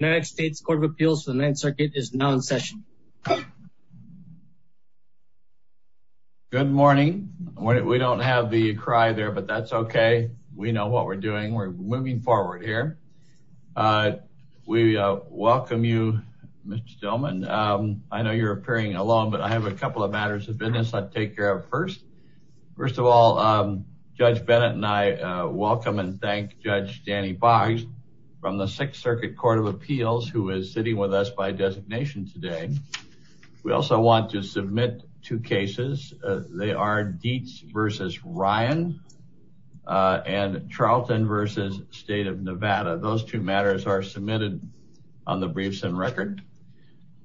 United States Court of Appeals for the Ninth Circuit is now in session. Good morning. We don't have the cry there, but that's okay. We know what we're doing. We're moving forward here. We welcome you, Mr. Stillman. I know you're appearing alone, but I have a couple of matters of business I'd take care of first. First of all, Judge and thank Judge Danny Boggs from the Sixth Circuit Court of Appeals who is sitting with us by designation today. We also want to submit two cases. They are Dietz v. Ryan and Charlton v. State of Nevada. Those two matters are submitted on the briefs and record.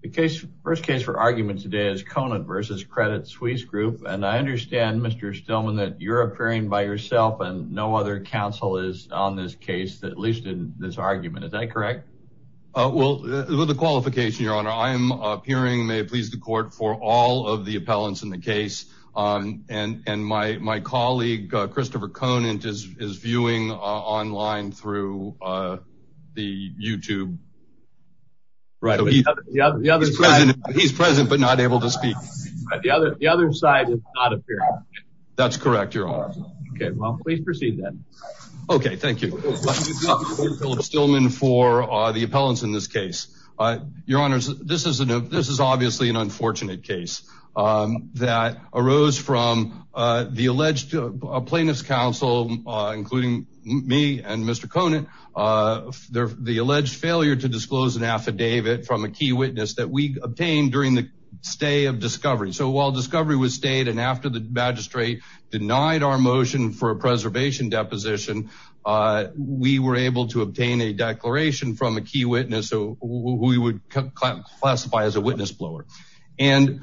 The first case for argument today is Conant v. Credit Suisse Group, and I understand, Mr. Stillman, that you're appearing by yourself and no other counsel is on this case, at least in this argument. Is that correct? With the qualification, Your Honor, I am appearing, may it please the court, for all of the appellants in the case, and my colleague, Christopher Conant, is viewing online through the YouTube. He's present, but not able to speak. The other side is not appearing. That's correct, Your Honor. Okay, well, please proceed then. Okay, thank you. Thank you, Mr. Stillman, for the appellants in this case. Your Honor, this is obviously an unfortunate case that arose from the alleged plaintiff's counsel, including me and Mr. Conant, the alleged failure to disclose an affidavit from a key witness that we obtained during the stay of discovery. So while discovery was stayed, and after the magistrate denied our motion for a preservation deposition, we were able to obtain a declaration from a key witness who we would classify as a witness blower. And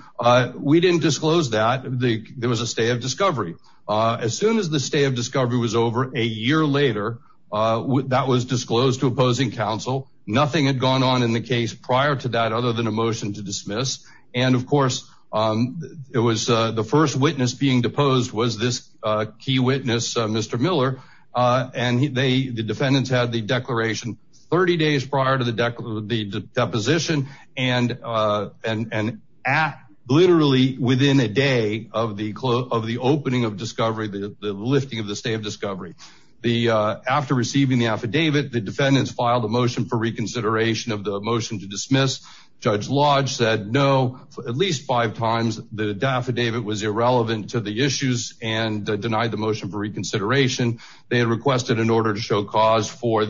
we didn't disclose that. There was a stay of discovery. As soon as the stay of discovery was over, a year later, that was disclosed to opposing counsel. Nothing had gone on in the case prior to that other than a motion to dismiss. And of course, it was the first witness being deposed was this key witness, Mr. Miller, and the defendants had the declaration 30 days prior to the deposition, and literally within a day of the opening of discovery, the lifting of the stay of discovery. After receiving the affidavit, the defendants filed a motion for reconsideration of the motion to dismiss. Judge Lodge said no, at least five times. The affidavit was irrelevant to the issues and denied the motion for reconsideration. They had requested an order to show cause for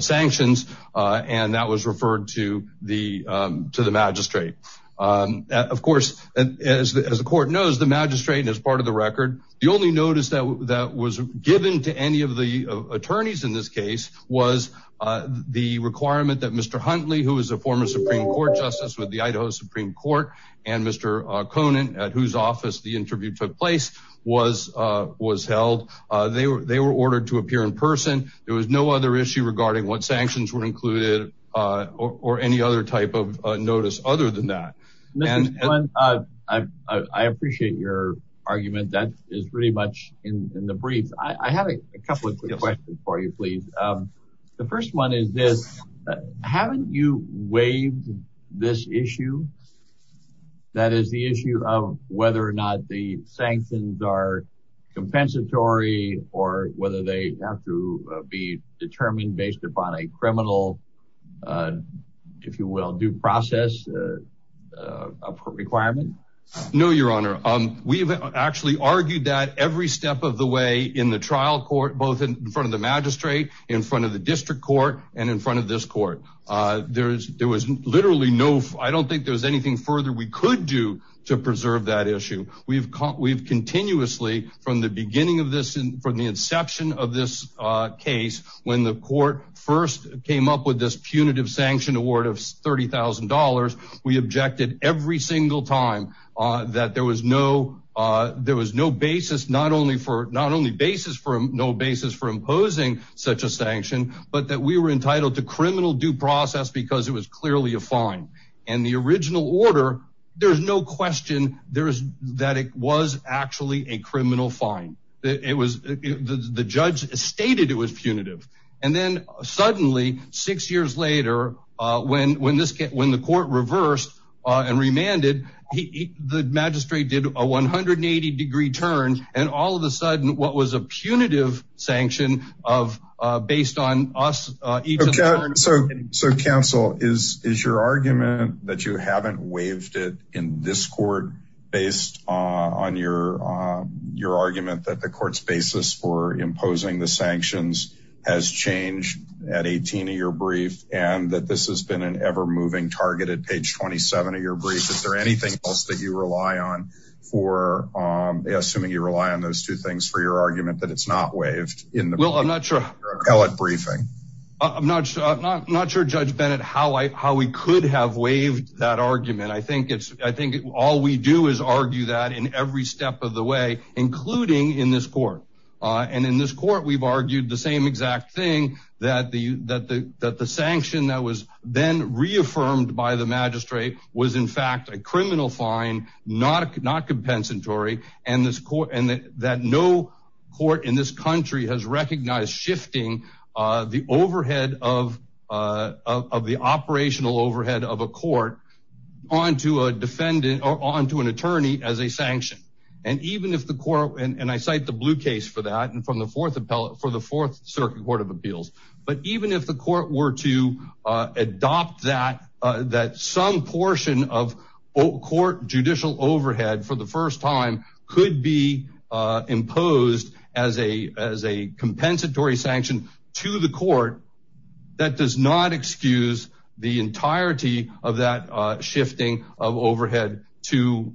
sanctions, and that was referred to the magistrate. Of course, as the court knows, the magistrate is part of the record. The only notice that was given to any of attorneys in this case was the requirement that Mr. Huntley, who is a former Supreme Court justice with the Idaho Supreme Court, and Mr. Conant, at whose office the interview took place, was held. They were ordered to appear in person. There was no other issue regarding what sanctions were included or any other type of notice other than that. I appreciate your argument. That is pretty much the question for you, please. The first one is this. Haven't you waived this issue? That is the issue of whether or not the sanctions are compensatory, or whether they have to be determined based upon a criminal, if you will, due process requirement? No, Your Honor. We've actually argued that every step of the way in the trial court, both in front of the magistrate, in front of the district court, and in front of this court. I don't think there's anything further we could do to preserve that issue. We've continuously, from the beginning of this, from the inception of this case, when the court first came up with this punitive sanction award of $30,000, we objected every single time that there was no basis not only for imposing such a sanction, but that we were entitled to criminal due process because it was clearly a fine. In the original order, there's no question that it was actually a criminal fine. The judge stated it was punitive. And then suddenly, six years later, when the court reversed and remanded, the magistrate did a 180-degree turn, and all of a sudden, what was a punitive sanction based on us. So, counsel, is your argument that you haven't waived it in this court based on your argument that the court's basis for imposing the sanctions has changed at 18 of your brief, and that this has been an ever-moving target at page 27 of your brief? Is there anything else that you rely on for, assuming you rely on those two things for your argument, that it's not waived? Well, I'm not sure. I'm not sure, Judge Bennett, how we could have waived that argument. I think all we do is argue that in every step of the way, including in this court. And in this court, we've argued the same exact thing, that the sanction that was then reaffirmed by the magistrate was in fact a criminal fine, not compensatory, and that no court in this country has recognized shifting the operational overhead of a court onto an attorney as a sanction. And I cite the blue case for that, for the Fourth Circuit Court of Appeals. But even if the court were to adopt that some portion of court judicial overhead for the first time could be imposed as a compensatory sanction to the court, that does not excuse the entirety of that shifting of overhead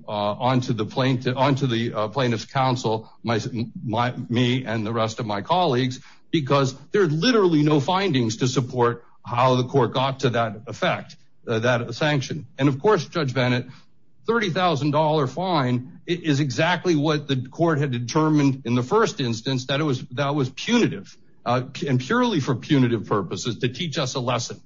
onto the plaintiff's counsel, me and the rest of my colleagues, because there are literally no findings to support how the court got to that effect, that sanction. And of course, Judge Bennett, $30,000 fine is exactly what the court had determined in the first instance that was punitive, and purely for punitive purposes, to teach us a lesson.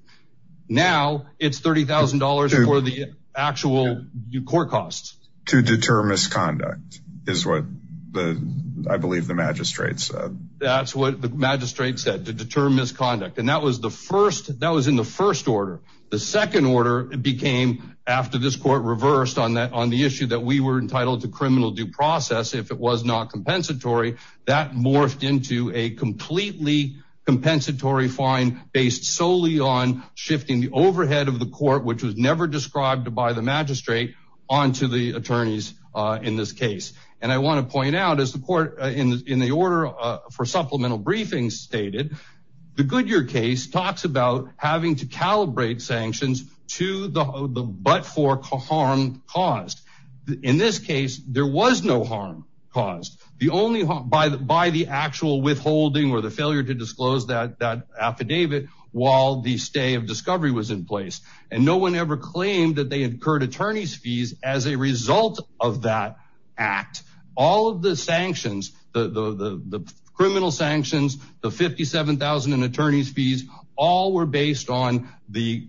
Now it's $30,000 for the actual court costs. To deter misconduct, is what I believe the magistrate said. That's what the magistrate said, to deter misconduct. And that was in the first order. The second order became, after this court reversed on the issue that we were entitled to criminal due process if it was not compensatory, that morphed into a completely compensatory fine based solely on shifting the overhead of the court, which was never described by the magistrate, onto the attorneys in this case. And I want to point out, as the court in the order for supplemental briefings stated, the Goodyear case talks about having to calibrate sanctions to the but-for harm caused. In this case, there was no harm caused. By the actual withholding or the failure to disclose that affidavit, while the stay of discovery was in place. And no one ever claimed that they incurred attorney's fees as a result of that act. All of the sanctions, the criminal sanctions, the $57,000 in attorney's fees, all were based on the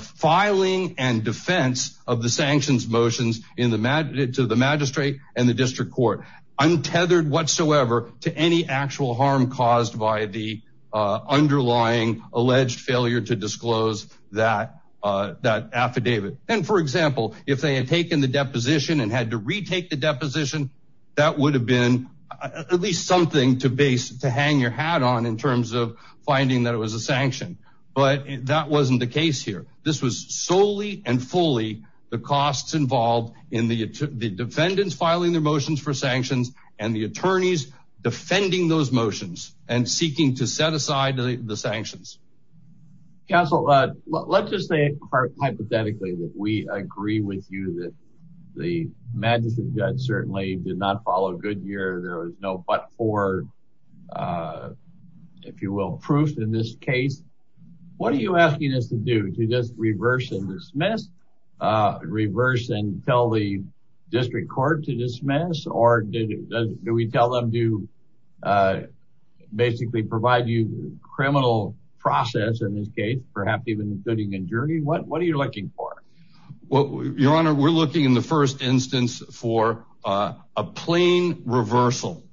filing and defense of the sanctions motions to the magistrate and the district court. Untethered whatsoever to any actual harm caused by the underlying alleged failure to disclose that affidavit. And for example, if they had taken the deposition and had to retake the deposition, that would have been at least something to base, to hang your hat on in terms of finding that it was a sanction. But that wasn't the case here. This was solely and fully the costs involved in the defendants filing their motions for sanctions and the attorneys defending those motions and seeking to set aside the sanctions. Counsel, let's just say hypothetically that we agree with you that the magistrate judge certainly did not follow Goodyear. There was no but for, if you will, proof in this case. What are you asking us to do? To just reverse and dismiss? Reverse and tell the district court to dismiss? Or do we tell them to basically provide you criminal process in this case, perhaps even including a jury? What are you looking for? Your honor, we're looking in the first instance for a plain reversal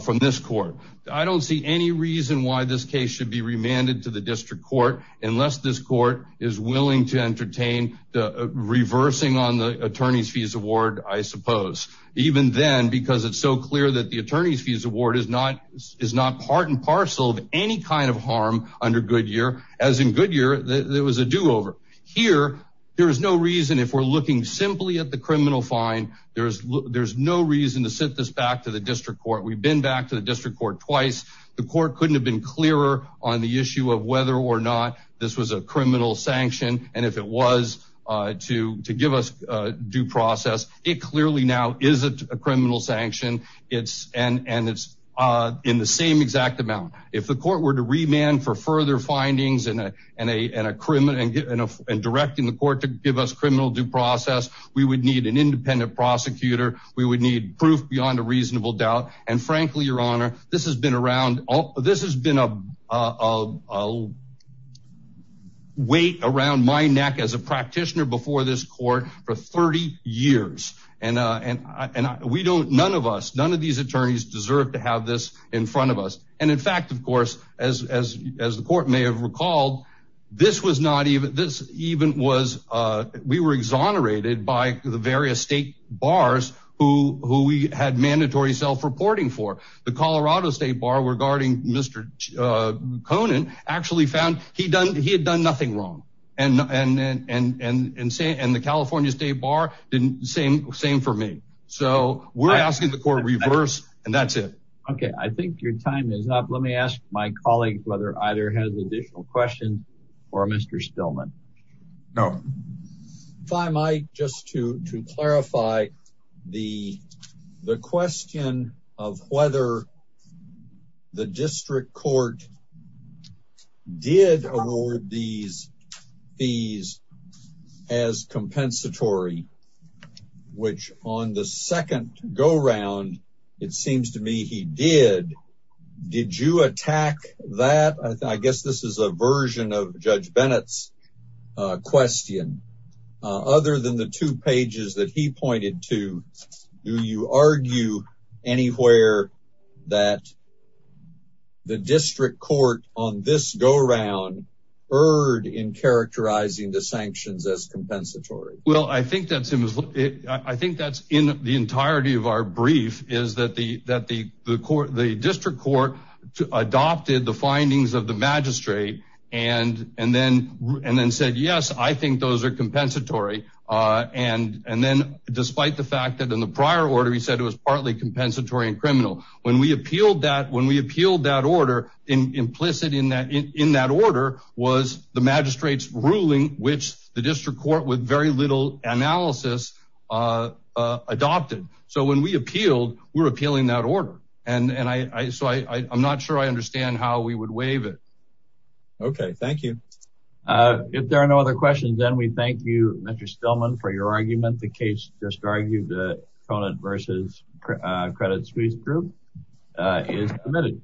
from this court. I don't see any reason why this case should be remanded to the district court unless this court is willing to entertain the reversing on the attorney's fees award, I suppose. Even then, because it's so clear that the attorney's fees award is not part and parcel of any kind of harm under Goodyear, as in Goodyear, it was a do-over. Here, there's no reason, if we're looking simply at the criminal fine, there's no reason to sit this back to the district court. We've been back to the district court twice. The court couldn't have been clearer on the issue of whether or not this was a criminal sanction and if it was to give us due process. It clearly now isn't a criminal sanction. It's in the same exact amount. If the court were to remand for further findings and directing the court to give us criminal due process, we would need an independent prosecutor. We would need proof beyond a reasonable doubt. And frankly, your honor, this has been a weight around my neck as a practitioner before this court for 30 years. None of us, none of these attorneys deserve to have this in front of us. And in fact, of course, as the court may have recalled, we were exonerated by the various state bars who we had mandatory self-reporting for. The Colorado State Bar regarding Mr. Spillman. And the California State Bar did the same for me. So we're asking the court to reverse and that's it. Okay, I think your time is up. Let me ask my colleague whether either has additional questions for Mr. Spillman. No. If I might just to clarify the question of whether the district court did award these fees as compensatory, which on the second go-round, it seems to me he did. Did you attack that? I guess this is a version of Judge Bennett's question. Other than the two on this go-round erred in characterizing the sanctions as compensatory. Well, I think that's in the entirety of our brief is that the district court adopted the findings of the magistrate and then said, yes, I think those are compensatory. And then despite the fact that in the prior order, it was partly compensatory and criminal. When we appealed that order, implicit in that order was the magistrate's ruling, which the district court with very little analysis adopted. So when we appealed, we were appealing that order. And so I'm not sure I understand how we would waive it. Okay, thank you. If there are no other questions, then we thank you, Mr. Spillman, for your argument. The case just argued that Conant v. Credit Suisse Group is admitted.